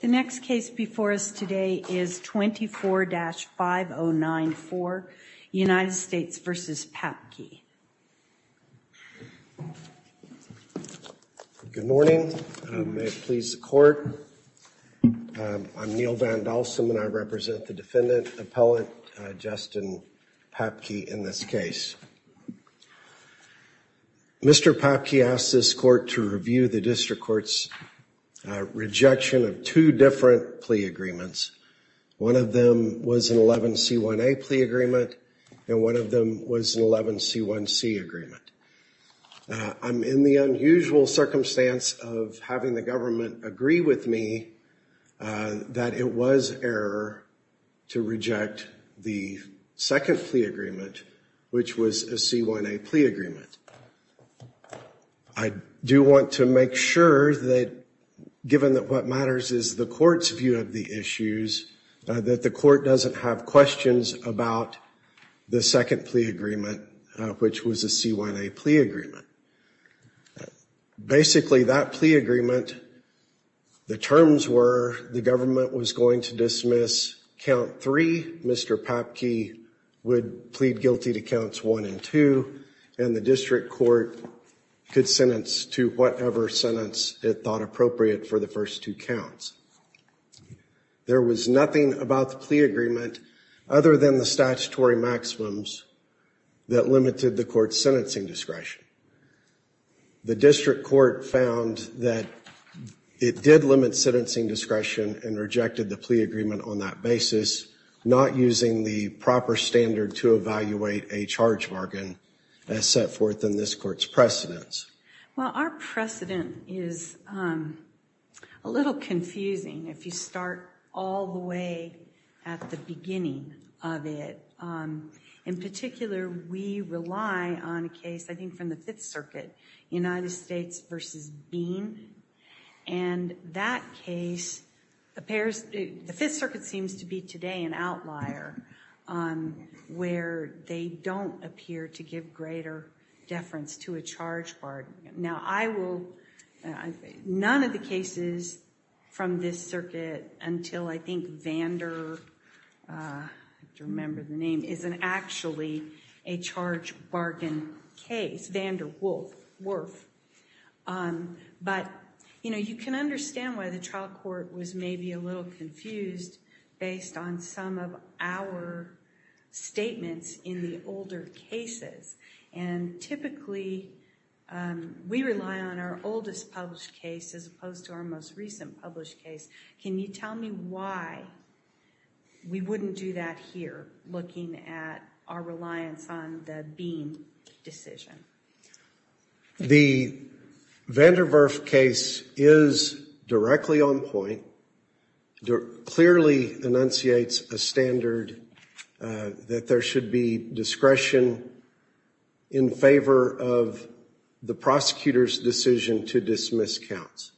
The next case before us today is 24-5094, United States v. Papke. Good morning. May it please the court. I'm Neal Van Dalsum and I represent the defendant, Appellate Justin Papke, in this case. Mr. Papke asked this court to review the district court's rejection of two different plea agreements. One of them was an 11C1A plea agreement and one of them was an 11C1C agreement. I'm in the unusual circumstance of having the government agree with me that it was error to reject the second plea agreement, which was a C1A plea agreement. I do want to make sure that, given that what matters is the court's view of the issues, that the court doesn't have questions about the second plea agreement, which was a C1A plea agreement. Basically, that plea agreement, the terms were the government was going to dismiss count three, Mr. Papke would plead guilty to counts one and two, and the district court could sentence to whatever sentence it thought appropriate for the first two counts. There was nothing about the plea agreement other than the statutory maximums that limited the court's sentencing discretion. The district court found that it did limit sentencing discretion and rejected the plea agreement on that basis, not using the proper standard to evaluate a charge bargain as set forth in this court's precedents. Well, our precedent is a little confusing if you start all the way at the beginning of it. In particular, we rely on a case, I think from the Fifth Circuit, United States versus Bean, and that case appears, the Fifth Circuit seems to be today an outlier where they don't appear to give greater deference to a charge bargain. Now, I will, none of the cases from this circuit until I think Vander, I have to remember the name, is actually a charge bargain case, Vander Wolf. But, you know, you can understand why the trial court was maybe a little confused based on some of our statements in the older cases. And typically, we rely on our oldest published case as opposed to our most recent published case. Can you tell me why we wouldn't do that here, looking at our reliance on the Bean decision? The Vanderwerf case is directly on point, clearly enunciates a standard that there should be discretion in favor of the prosecutor's decision to dismiss counts.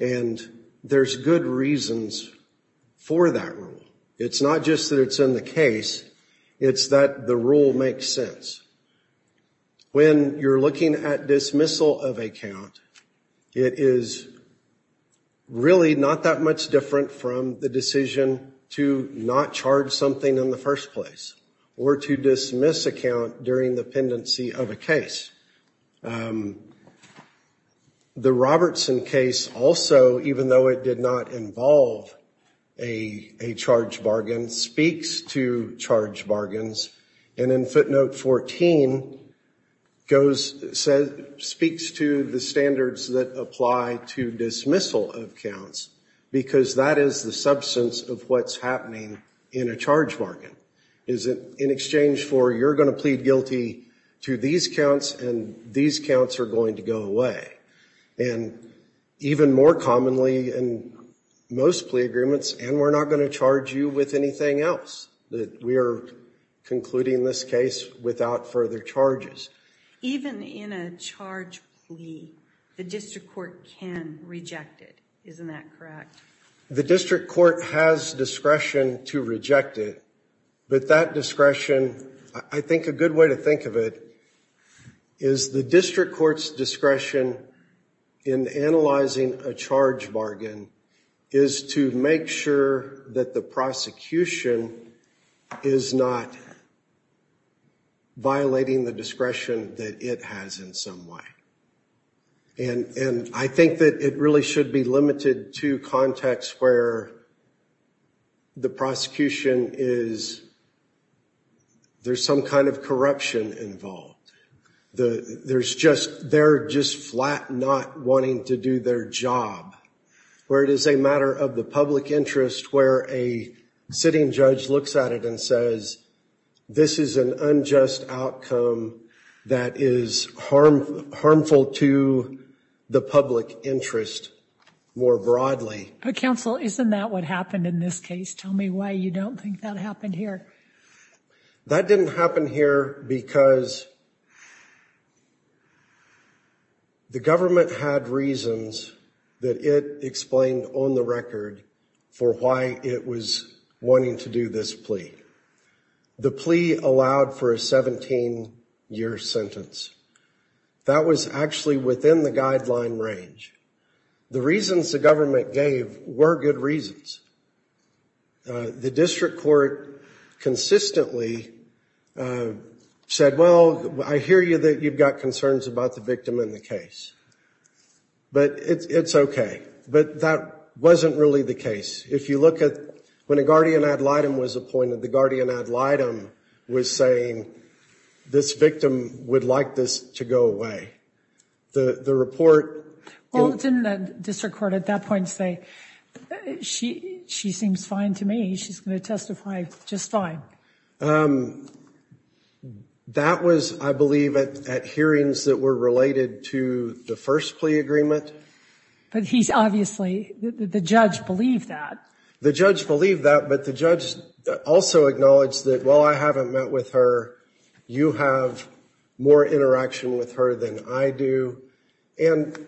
And there's good reasons for that rule. It's not just that it's in a case, it's that the rule makes sense. When you're looking at dismissal of a count, it is really not that much different from the decision to not charge something in the first place, or to dismiss a count during the pendency of a case. The Robertson case also, even though it did not involve a charge bargain, speaks to charge bargains. And in footnote 14, speaks to the standards that apply to dismissal of counts, because that is the substance of what's happening in a charge bargain, is that in exchange for you're going to plead guilty to these counts, and these counts are going to go away. And even more commonly in most plea agreements, and we're not going to charge you with anything else, that we are concluding this case without further charges. Even in a charge plea, the district court can reject it. The district court has discretion to reject it, but that discretion, I think a good way to think of it, is the district court's discretion in analyzing a charge bargain is to make sure that the prosecution is not violating the discretion that it has in some way. And I think that it really should be limited to contexts where the prosecution is, there's some kind of corruption involved. There's just, they're just flat not wanting to do their job. Where it is a matter of the public interest where a sitting judge looks at it and says, this is an unjust outcome that is harmful to the public interest more broadly. Counsel, isn't that what happened in this case? Tell me why you don't think that happened here. That didn't happen here because the government had reasons that it explained on the record for why it was wanting to do this plea. The plea allowed for a 17 year sentence. That was actually within the guideline range. The reasons the government gave were good reasons. The district court consistently said, well, I hear you that you've got concerns about the victim in the case, but it's okay. But that wasn't really the case. If you look at when a guardian ad litem was appointed, the guardian ad litem was saying this victim would like this to go away. Well, didn't the district court at that point say, she seems fine to me. She's going to testify just fine. That was, I believe, at hearings that were related to the first plea agreement. But he's obviously, the judge believed that. The judge believed that, but the judge also acknowledged that, well, I haven't met with her. You have more interaction with her than I do. And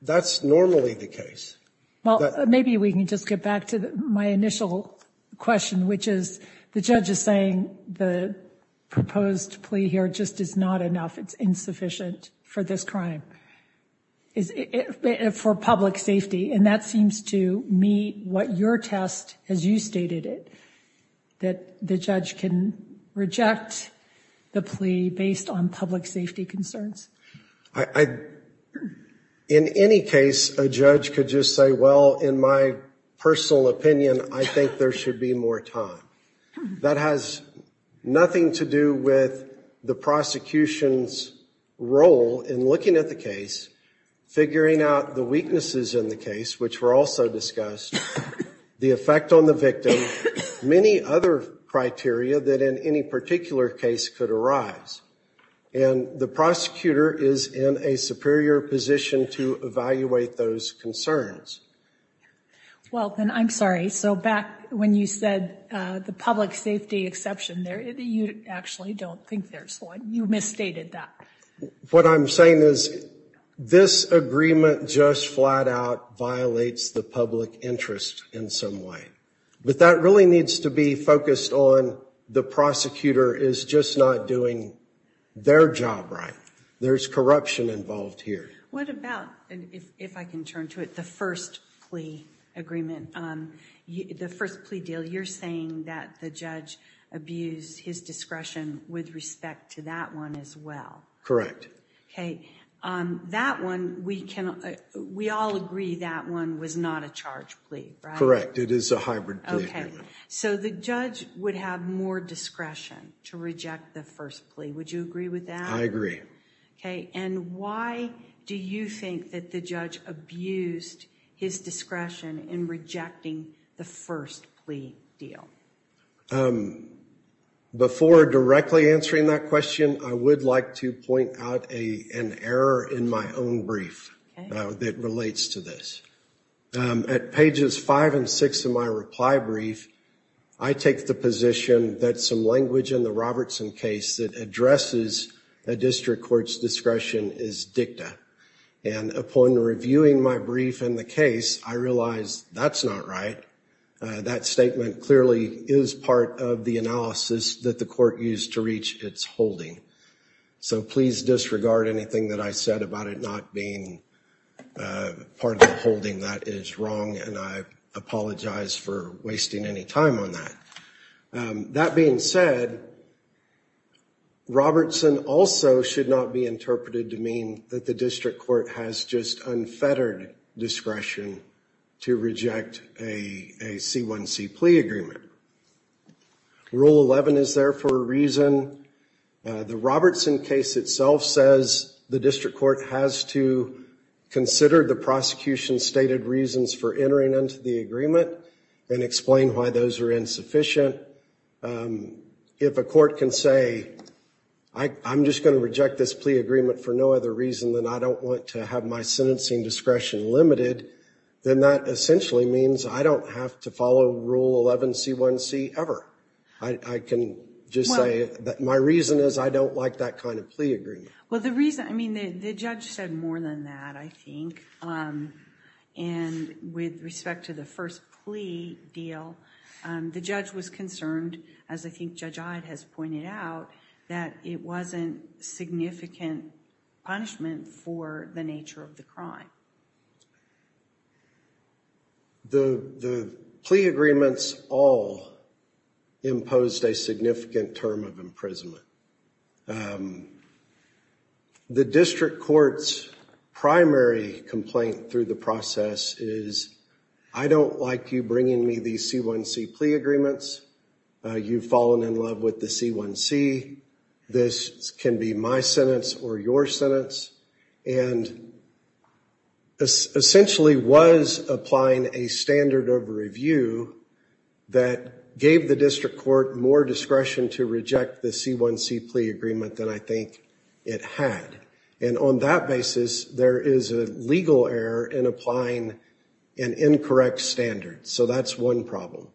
that's normally the case. Well, maybe we can just get back to my initial question, which is the judge is saying the proposed plea here just is not enough. It's insufficient for this crime, for public safety. And that seems to meet what your test, as you stated it, that the judge can reject the plea based on public safety concerns. In any case, a judge could just say, well, in my personal opinion, I think there should be more time. That has nothing to do with the prosecution's role in looking at the case, figuring out the weaknesses in the case, which were also discussed, the effect on the victim, many other criteria that in any particular case could arise. And the prosecutor is in a superior position to evaluate those concerns. Well, then I'm sorry. So back when you said the public safety exception there, you actually don't think there's one. You misstated that. What I'm saying is this agreement just flat out violates the public interest in some way. But that really needs to be focused on the prosecutor is just not doing their job right. There's corruption involved here. What about, if I can turn to it, the first plea agreement, the first plea deal? You're saying that the judge abused his discretion with respect to that one as well. Correct. That one, we all agree that one was not a charge plea. Correct. It is a hybrid plea agreement. So the judge would have more discretion to reject the first plea. Would you agree with that? I agree. Okay. And why do you think that the judge abused his discretion in rejecting the first plea deal? Before directly answering that question, I would like to point out an error in my own brief that relates to this. At pages five and six of my reply brief, I take the position that some language in the Robertson case that addresses a district court's discretion is dicta. And upon reviewing my brief in the case, I realized that's not right. That statement clearly is part of the analysis that the court used to reach its holding. So please disregard anything that I said about it not being part of the holding that is wrong. And I apologize for wasting any time on that. That being said, Robertson also should not be interpreted to mean that the district court has just unfettered discretion to reject a C1C plea agreement. Rule 11 is there for a reason. The Robertson case itself says the district court has to consider the prosecution's stated reasons for entering into the agreement and explain why those are insufficient. If a court can say, I'm just going to reject this plea agreement for no other reason than I don't want to have my sentencing discretion limited, then that essentially means I don't have to follow Rule 11 C1C ever. I can just say that my reason is I don't like that kind of plea agreement. Well, the reason I mean, the judge said more than that, I think. And with respect to the first plea deal, the judge was concerned, as I think Judge Iodd has pointed out, that it wasn't significant punishment for the nature of the crime. The plea agreements all imposed a significant term of imprisonment. The district court's primary complaint through the process is, I don't like you bringing me these C1C plea agreements. You've fallen in love with the C1C. This can be my sentence or your sentence. And essentially was applying a standard of review that gave the district court more discretion to reject the C1C plea agreement than I think it had. And on that basis, there is a legal error in applying an incorrect standard. So that's one problem.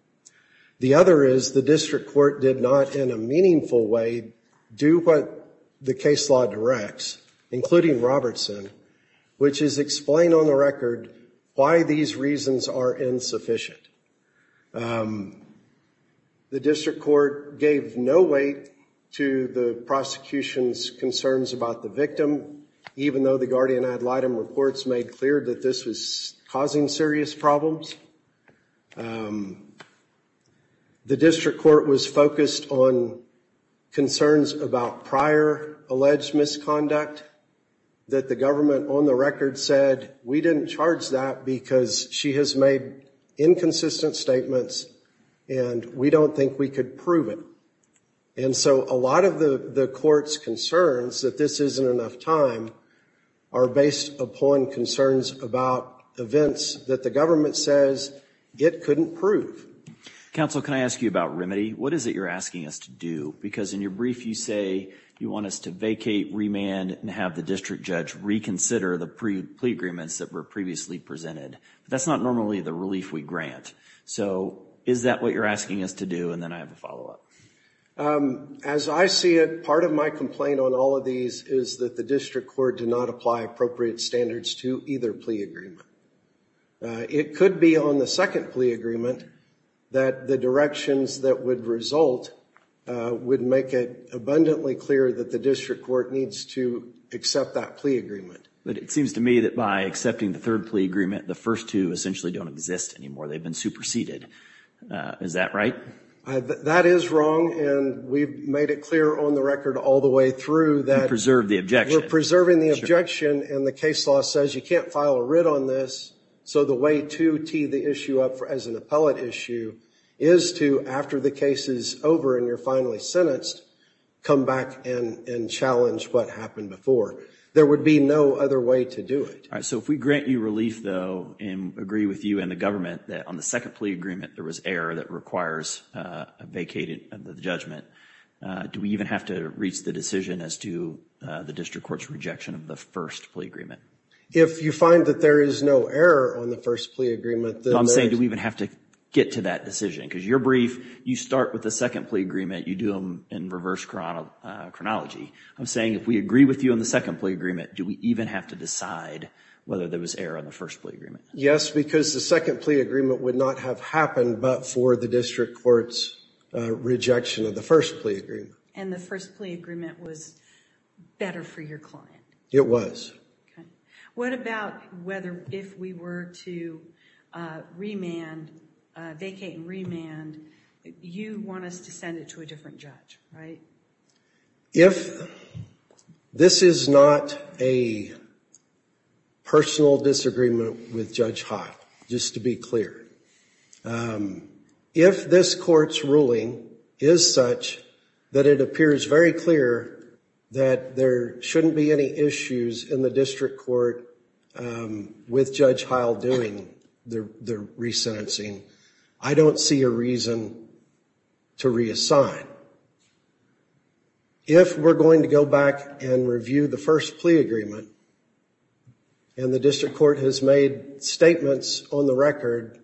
The other is the district court did not in a meaningful way do what the case law directs, including Robertson, which is explain on the record why these reasons are insufficient. The district court gave no weight to the prosecution's concerns about the victim, even though the guardian ad litem reports made clear that this was causing serious problems. The district court was focused on concerns about prior alleged misconduct that the government on the record said, we didn't charge that because she has made inconsistent statements and we don't think we could prove it. And so a lot of the court's concerns that this isn't enough time are based upon concerns about events that the government says it couldn't prove. Counsel, can I ask you about remedy? What is it you're asking us to do? Because in your brief, you say you want us to vacate, remand, and have the district judge reconsider the plea agreements that were previously presented. That's not normally the relief we grant. So is that what you're asking us to do? And then I have a follow up as I see it. Part of my complaint on all of these is that the district court did not apply appropriate standards to either plea agreement. It could be on the second plea agreement that the directions that would result would make it abundantly clear that the district court needs to accept that plea agreement. But it seems to me that by accepting the third plea agreement, the first two essentially don't exist anymore. They've been superseded. Is that right? That is wrong. And we've made it clear on the record all the way through that we're preserving the objection. And the case law says you can't file a writ on this. So the way to tee the issue up as an appellate issue is to, after the case is over and you're finally sentenced, come back and challenge what happened before. There would be no other way to do it. All right, so if we grant you relief, though, and agree with you and the government that on the second plea agreement there was error that requires a vacated judgment, do we even have to reach the decision as to the district court's rejection of the first plea agreement? If you find that there is no error on the first plea agreement. I'm saying do we even have to get to that decision? Because you're brief. You start with the second plea agreement. You do them in reverse chronology. I'm saying if we agree with you on the second plea agreement, do we even have to decide whether there was error on the first plea agreement? Yes, because the second plea agreement would not have happened but for the district court's rejection of the first plea agreement. And the first plea agreement was better for your client. It was. What about whether if we were to remand, vacate and remand, you want us to send it to a different judge, right? If this is not a personal disagreement with Judge Heil, just to be clear, if this court's ruling is such that it appears very clear that there shouldn't be any issues in the district court with Judge Heil doing the resentencing, I don't see a reason to reassign. If we're going to go back and review the first plea agreement and the district court has made statements on the record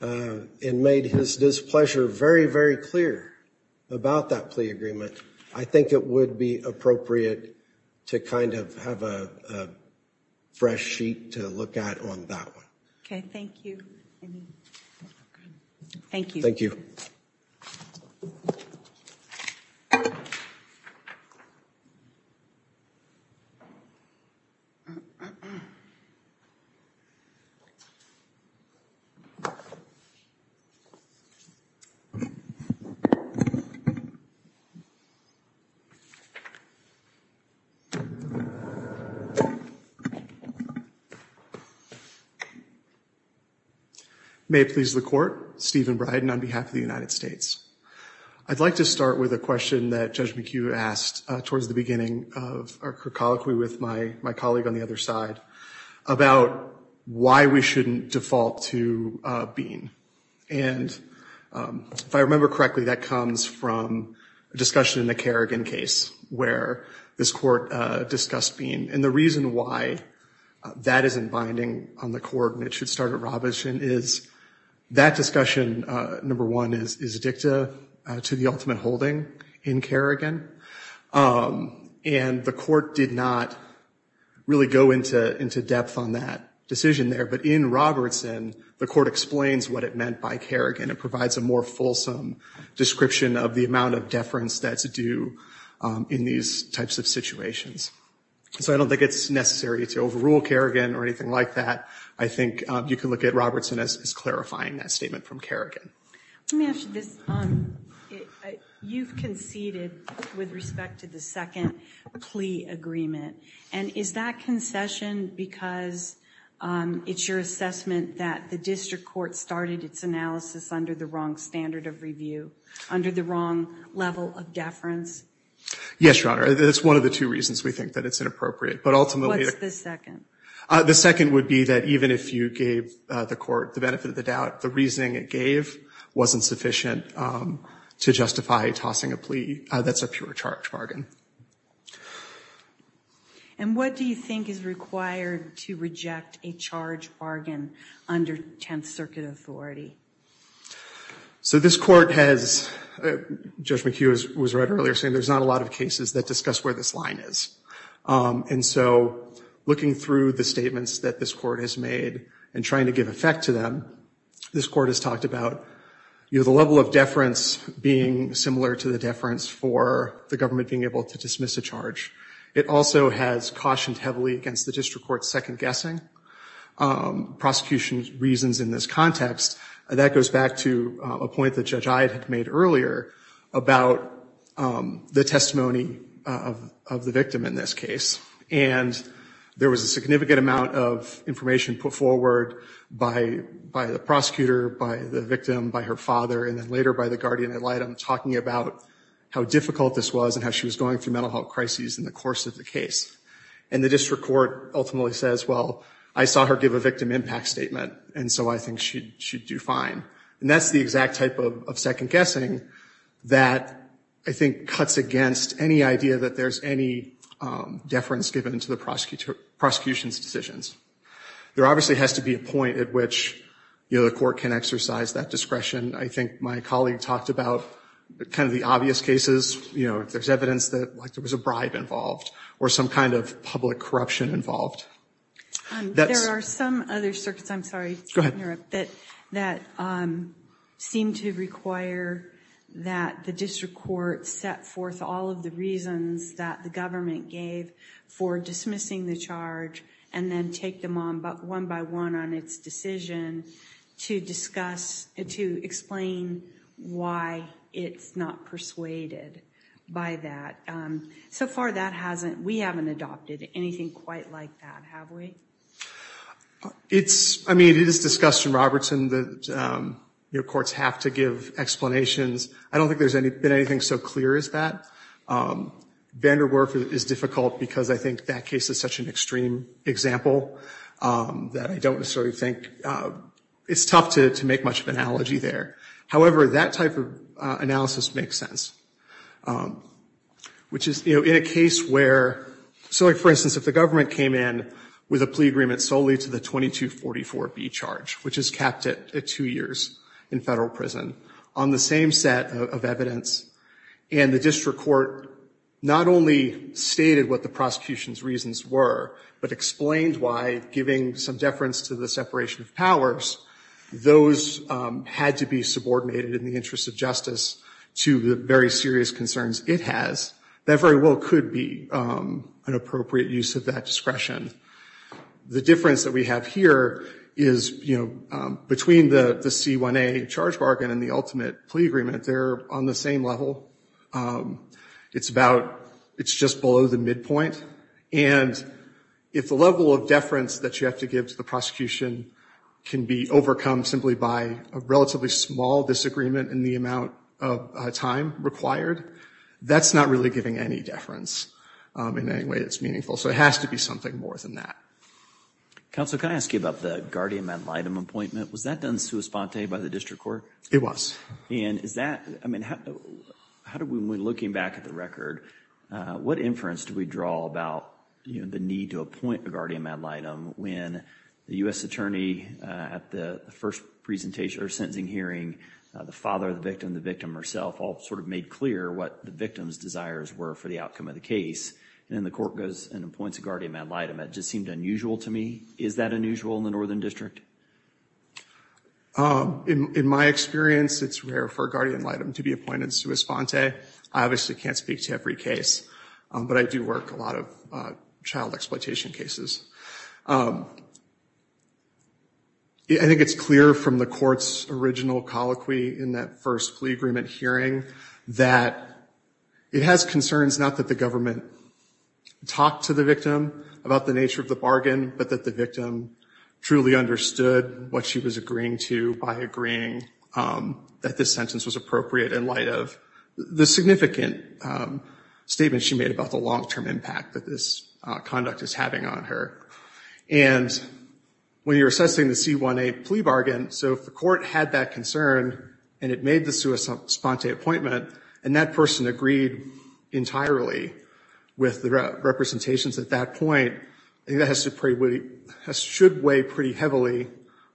and made his displeasure very, very clear about that plea agreement, I think it would be appropriate to kind of have a fresh sheet to look at on that one. OK, thank you. Thank you. May it please the court, Stephen Bryden on behalf of the United States. I'd like to start with a question that Judge McHugh asked towards the beginning of our colloquy with my colleague on the other side about why we shouldn't default to Bean. And if I remember correctly, that comes from a discussion in the Kerrigan case where this court discussed Bean. And the reason why that isn't binding on the court and it should start at Robertson is that discussion, number one, is addicted to the ultimate holding in Kerrigan. And the court did not really go into depth on that decision there. But in Robertson, the court explains what it meant by Kerrigan. It provides a more fulsome description of the amount of deference that's due in these types of situations. So I don't think it's necessary to overrule Kerrigan or anything like that. I think you can look at Robertson as clarifying that statement from Kerrigan. Let me ask you this. You've conceded with respect to the second plea agreement. And is that concession because it's your assessment that the district court started its analysis under the wrong standard of review, under the wrong level of deference? Yes, Your Honor. That's one of the two reasons we think that it's inappropriate. But ultimately- What's the second? The second would be that even if you gave the court the benefit of the doubt, the reasoning it gave wasn't sufficient to justify tossing a plea that's a pure charge bargain. And what do you think is required to reject a charge bargain under Tenth Circuit authority? So this court has- Judge McHugh was right earlier saying there's not a lot of cases that discuss where this line is. And so looking through the statements that this court has made and trying to give effect to them, this court has talked about the level of deference being similar to the deference for the government being able to dismiss a charge. It also has cautioned heavily against the district court's second guessing prosecution reasons in this context. That goes back to a point that Judge Iod had made earlier about the testimony of the victim in this case. And there was a significant amount of information put forward by the prosecutor, by the victim, by her father, and then later by the guardian ad litem talking about how difficult this was and how she was going through mental health crises in the course of the case. And the district court ultimately says, well, I saw her give a victim impact statement, and so I think she'd do fine. And that's the exact type of second guessing that I think cuts against any idea that there's any deference given to the prosecution's decisions. There obviously has to be a point at which, you know, the court can exercise that discretion. I think my colleague talked about kind of the obvious cases, you know, if there's evidence that, like, there was a bribe involved or some kind of public corruption involved. There are some other circuits, I'm sorry to interrupt, that seem to require that the district court set forth all of the reasons that the government gave for dismissing the charge and then take them one by one on its decision to discuss, to explain why it's not persuaded by that. So far that hasn't, we haven't adopted anything quite like that, have we? It's, I mean, it is discussed in Robertson that, you know, courts have to give explanations. I don't think there's been anything so clear as that. Vanderwerf is difficult because I think that case is such an extreme example that I don't necessarily think, it's tough to make much of an analogy there. However, that type of analysis makes sense, which is, you know, in a case where, so like, for instance, if the government came in with a plea agreement solely to the 2244B charge, which is capped at two years in federal prison, on the same set of evidence, and the district court not only stated what the prosecution's reasons were, but explained why, giving some deference to the separation of powers, those had to be subordinated in the interest of justice to the very serious concerns it has, that very well could be an appropriate use of that discretion. The difference that we have here is, you know, between the C1A charge bargain and the ultimate plea agreement, they're on the same level. It's about, it's just below the midpoint. And if the level of deference that you have to give to the prosecution can be overcome simply by a relatively small disagreement in the amount of time required, that's not really giving any deference in any way that's meaningful. So it has to be something more than that. Counsel, can I ask you about the guardian ad litem appointment? Was that done sua sponte by the district court? It was. And is that, I mean, how do we, when looking back at the record, what inference do we draw about, you know, the need to appoint a guardian ad litem when the U.S. attorney at the first presentation or sentencing hearing, the father of the victim, the victim herself, all sort of made clear what the victim's desires were for the outcome of the case, and then the court goes and appoints a guardian ad litem. That just seemed unusual to me. Is that unusual in the Northern District? In my experience, it's rare for a guardian ad litem to be appointed sua sponte. I obviously can't speak to every case, but I do work a lot of child exploitation cases. I think it's clear from the court's original colloquy in that first plea agreement hearing that it has concerns not that the government talked to the victim about the nature of the bargain, but that the victim truly understood what she was agreeing to by agreeing that this sentence was appropriate in light of the significant statement she made about the long-term impact that this conduct is having on her. And when you're assessing the C-1A plea bargain, so if the court had that concern and it made the sua sponte appointment and that person agreed entirely with the representations at that point, I think that should weigh pretty heavily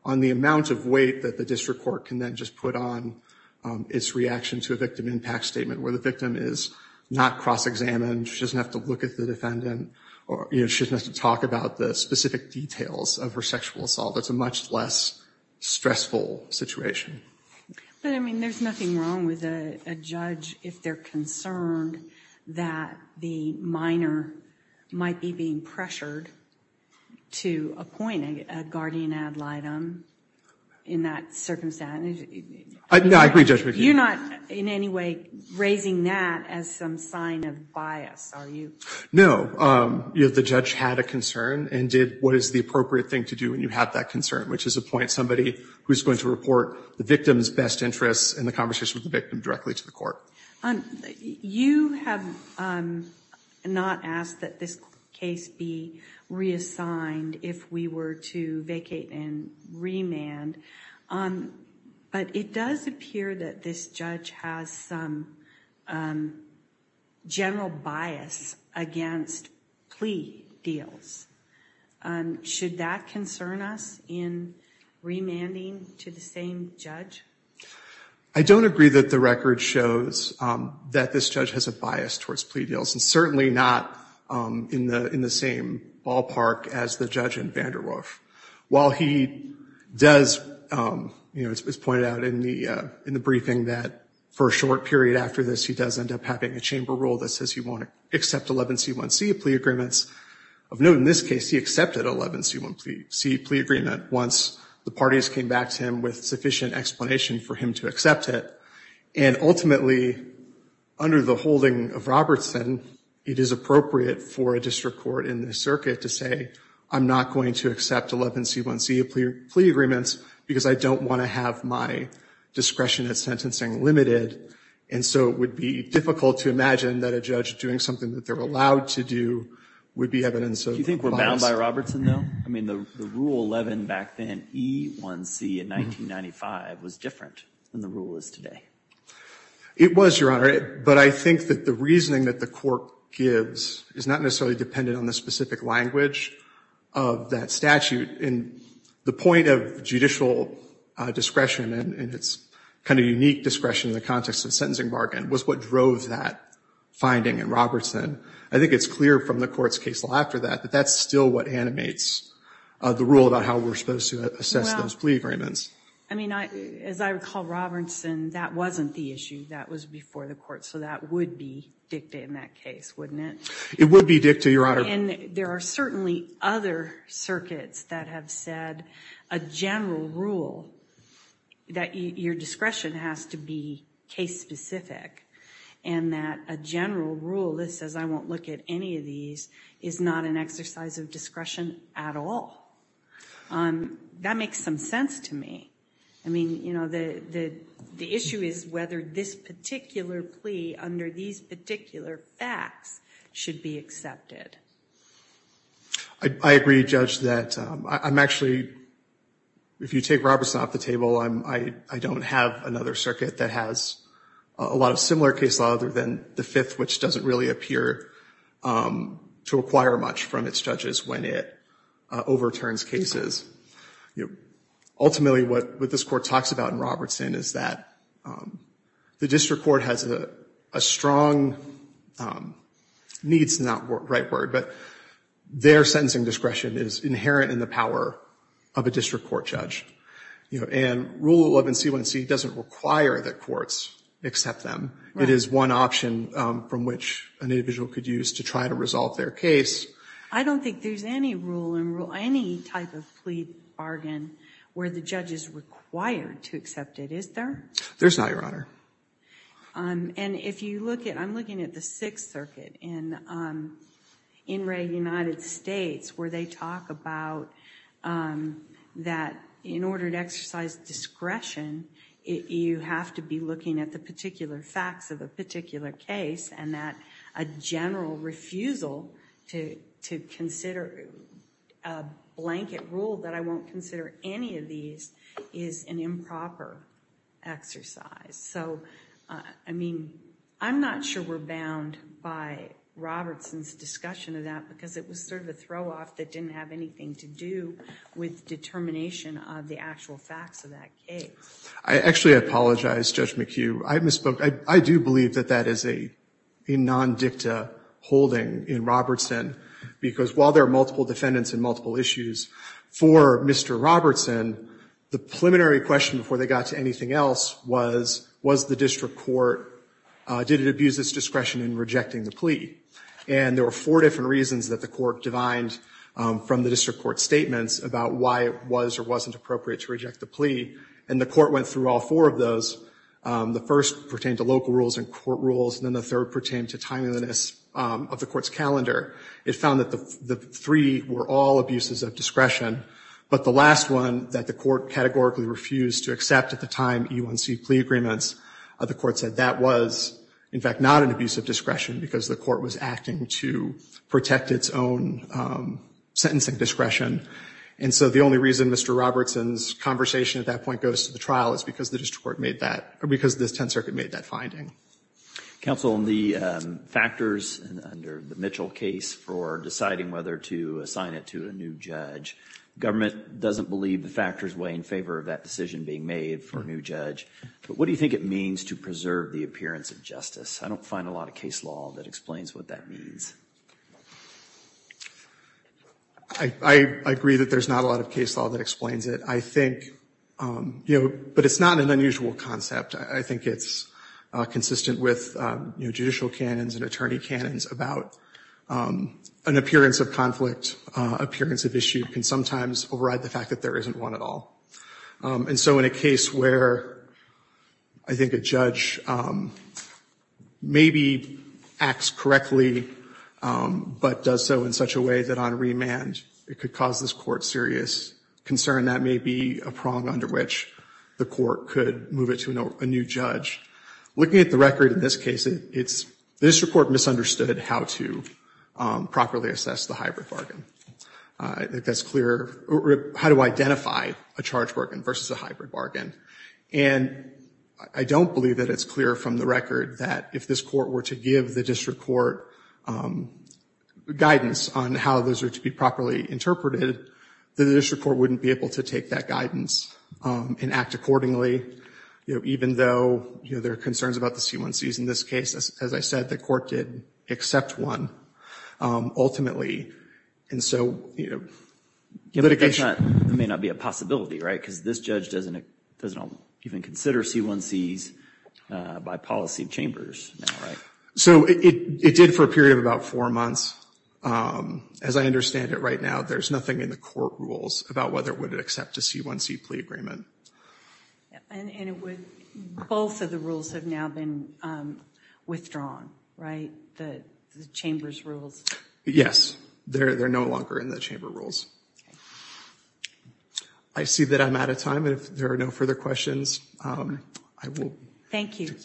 on the amount of weight that the district court can then just put on its reaction to a victim impact statement where the victim is not cross-examined, she doesn't have to look at the defendant, or she doesn't have to talk about the specific details of her sexual assault. It's a much less stressful situation. But, I mean, there's nothing wrong with a judge if they're concerned that the minor might be being pressured to appoint a guardian ad litem in that circumstance. No, I agree, Judge McGee. You're not in any way raising that as some sign of bias, are you? No. The judge had a concern and did what is the appropriate thing to do when you have that concern, which is appoint somebody who is going to report the victim's best interests in the conversation with the victim directly to the court. You have not asked that this case be reassigned if we were to vacate and remand, but it does appear that this judge has some general bias against plea deals. Should that concern us in remanding to the same judge? I don't agree that the record shows that this judge has a bias towards plea deals, and certainly not in the same ballpark as the judge in Vanderwolf. While he does, you know, it's pointed out in the briefing that for a short period after this, he does end up having a chamber rule that says he won't accept 11C1C plea agreements. Of note in this case, he accepted 11C1C plea agreement once the parties came back to him with sufficient explanation for him to accept it. And ultimately, under the holding of Robertson, it is appropriate for a district court in this circuit to say, I'm not going to accept 11C1C plea agreements because I don't want to have my discretion at sentencing limited, and so it would be difficult to imagine that a judge doing something that they're allowed to do would be evidence of bias. Do you think we're bound by Robertson, though? I mean, the rule 11 back then, E1C in 1995, was different than the rule is today. It was, Your Honor, but I think that the reasoning that the court gives is not necessarily dependent on the specific language of that statute. The point of judicial discretion and its kind of unique discretion in the context of sentencing bargain was what drove that finding in Robertson. I think it's clear from the court's case after that that that's still what animates the rule about how we're supposed to assess those plea agreements. I mean, as I recall, Robertson, that wasn't the issue. That was before the court, so that would be dicta in that case, wouldn't it? It would be dicta, Your Honor. And there are certainly other circuits that have said a general rule, that your discretion has to be case-specific, and that a general rule that says I won't look at any of these is not an exercise of discretion at all. That makes some sense to me. I mean, you know, the issue is whether this particular plea under these particular facts should be accepted. I agree, Judge, that I'm actually, if you take Robertson off the table, I don't have another circuit that has a lot of similar case law other than the Fifth, which doesn't really appear to acquire much from its judges when it overturns cases. Ultimately, what this court talks about in Robertson is that the district court has a strong needs, not right word, but their sentencing discretion is inherent in the power of a district court judge. And Rule 11C1C doesn't require that courts accept them. It is one option from which an individual could use to try to resolve their case. I don't think there's any rule, any type of plea bargain where the judge is required to accept it, is there? There's not, Your Honor. And if you look at, I'm looking at the Sixth Circuit in Wray, United States, where they talk about that in order to exercise discretion, you have to be looking at the particular facts of a particular case and that a general refusal to consider a blanket rule that I won't consider any of these is an improper exercise. So, I mean, I'm not sure we're bound by Robertson's discussion of that because it was sort of a throw-off that didn't have anything to do with determination of the actual facts of that case. I actually apologize, Judge McHugh. I misspoke. I do believe that that is a non-dicta holding in Robertson because while there are multiple defendants in multiple issues, for Mr. Robertson, the preliminary question before they got to anything else was, was the district court, did it abuse its discretion in rejecting the plea? And there were four different reasons that the court divined from the district court statements about why it was or wasn't appropriate to reject the plea, and the court went through all four of those. The first pertained to local rules and court rules, and then the third pertained to timeliness of the court's calendar. It found that the three were all abuses of discretion, but the last one that the court categorically refused to accept at the time E1C plea agreements, the court said that was, in fact, not an abuse of discretion because the court was acting to protect its own sentencing discretion. And so the only reason Mr. Robertson's conversation at that point goes to the trial is because the district court made that, or because the Tenth Circuit made that finding. Counsel, the factors under the Mitchell case for deciding whether to assign it to a new judge, government doesn't believe the factors weigh in favor of that decision being made for a new judge, but what do you think it means to preserve the appearance of justice? I don't find a lot of case law that explains what that means. I agree that there's not a lot of case law that explains it. I think, you know, but it's not an unusual concept. I think it's consistent with, you know, judicial canons and attorney canons about an appearance of conflict, appearance of issue can sometimes override the fact that there isn't one at all. And so in a case where I think a judge maybe acts correctly but does so in such a way that on remand it could cause this court serious concern, that may be a prong under which the court could move it to a new judge, looking at the record in this case, the district court misunderstood how to properly assess the hybrid bargain. That's clear, how to identify a charge bargain versus a hybrid bargain. And I don't believe that it's clear from the record that if this court were to give the district court guidance on how those are to be properly interpreted, the district court wouldn't be able to take that guidance and act accordingly. You know, even though, you know, there are concerns about the C1Cs in this case, as I said, the court did accept one ultimately. And so, you know, litigation. It may not be a possibility, right? Because this judge doesn't even consider C1Cs by policy chambers, right? So it did for a period of about four months. As I understand it right now, there's nothing in the court rules about whether it would accept a C1C plea agreement. And it would, both of the rules have now been withdrawn, right? The chamber's rules. Yes, they're no longer in the chamber rules. I see that I'm out of time. If there are no further questions, I will. Thank you.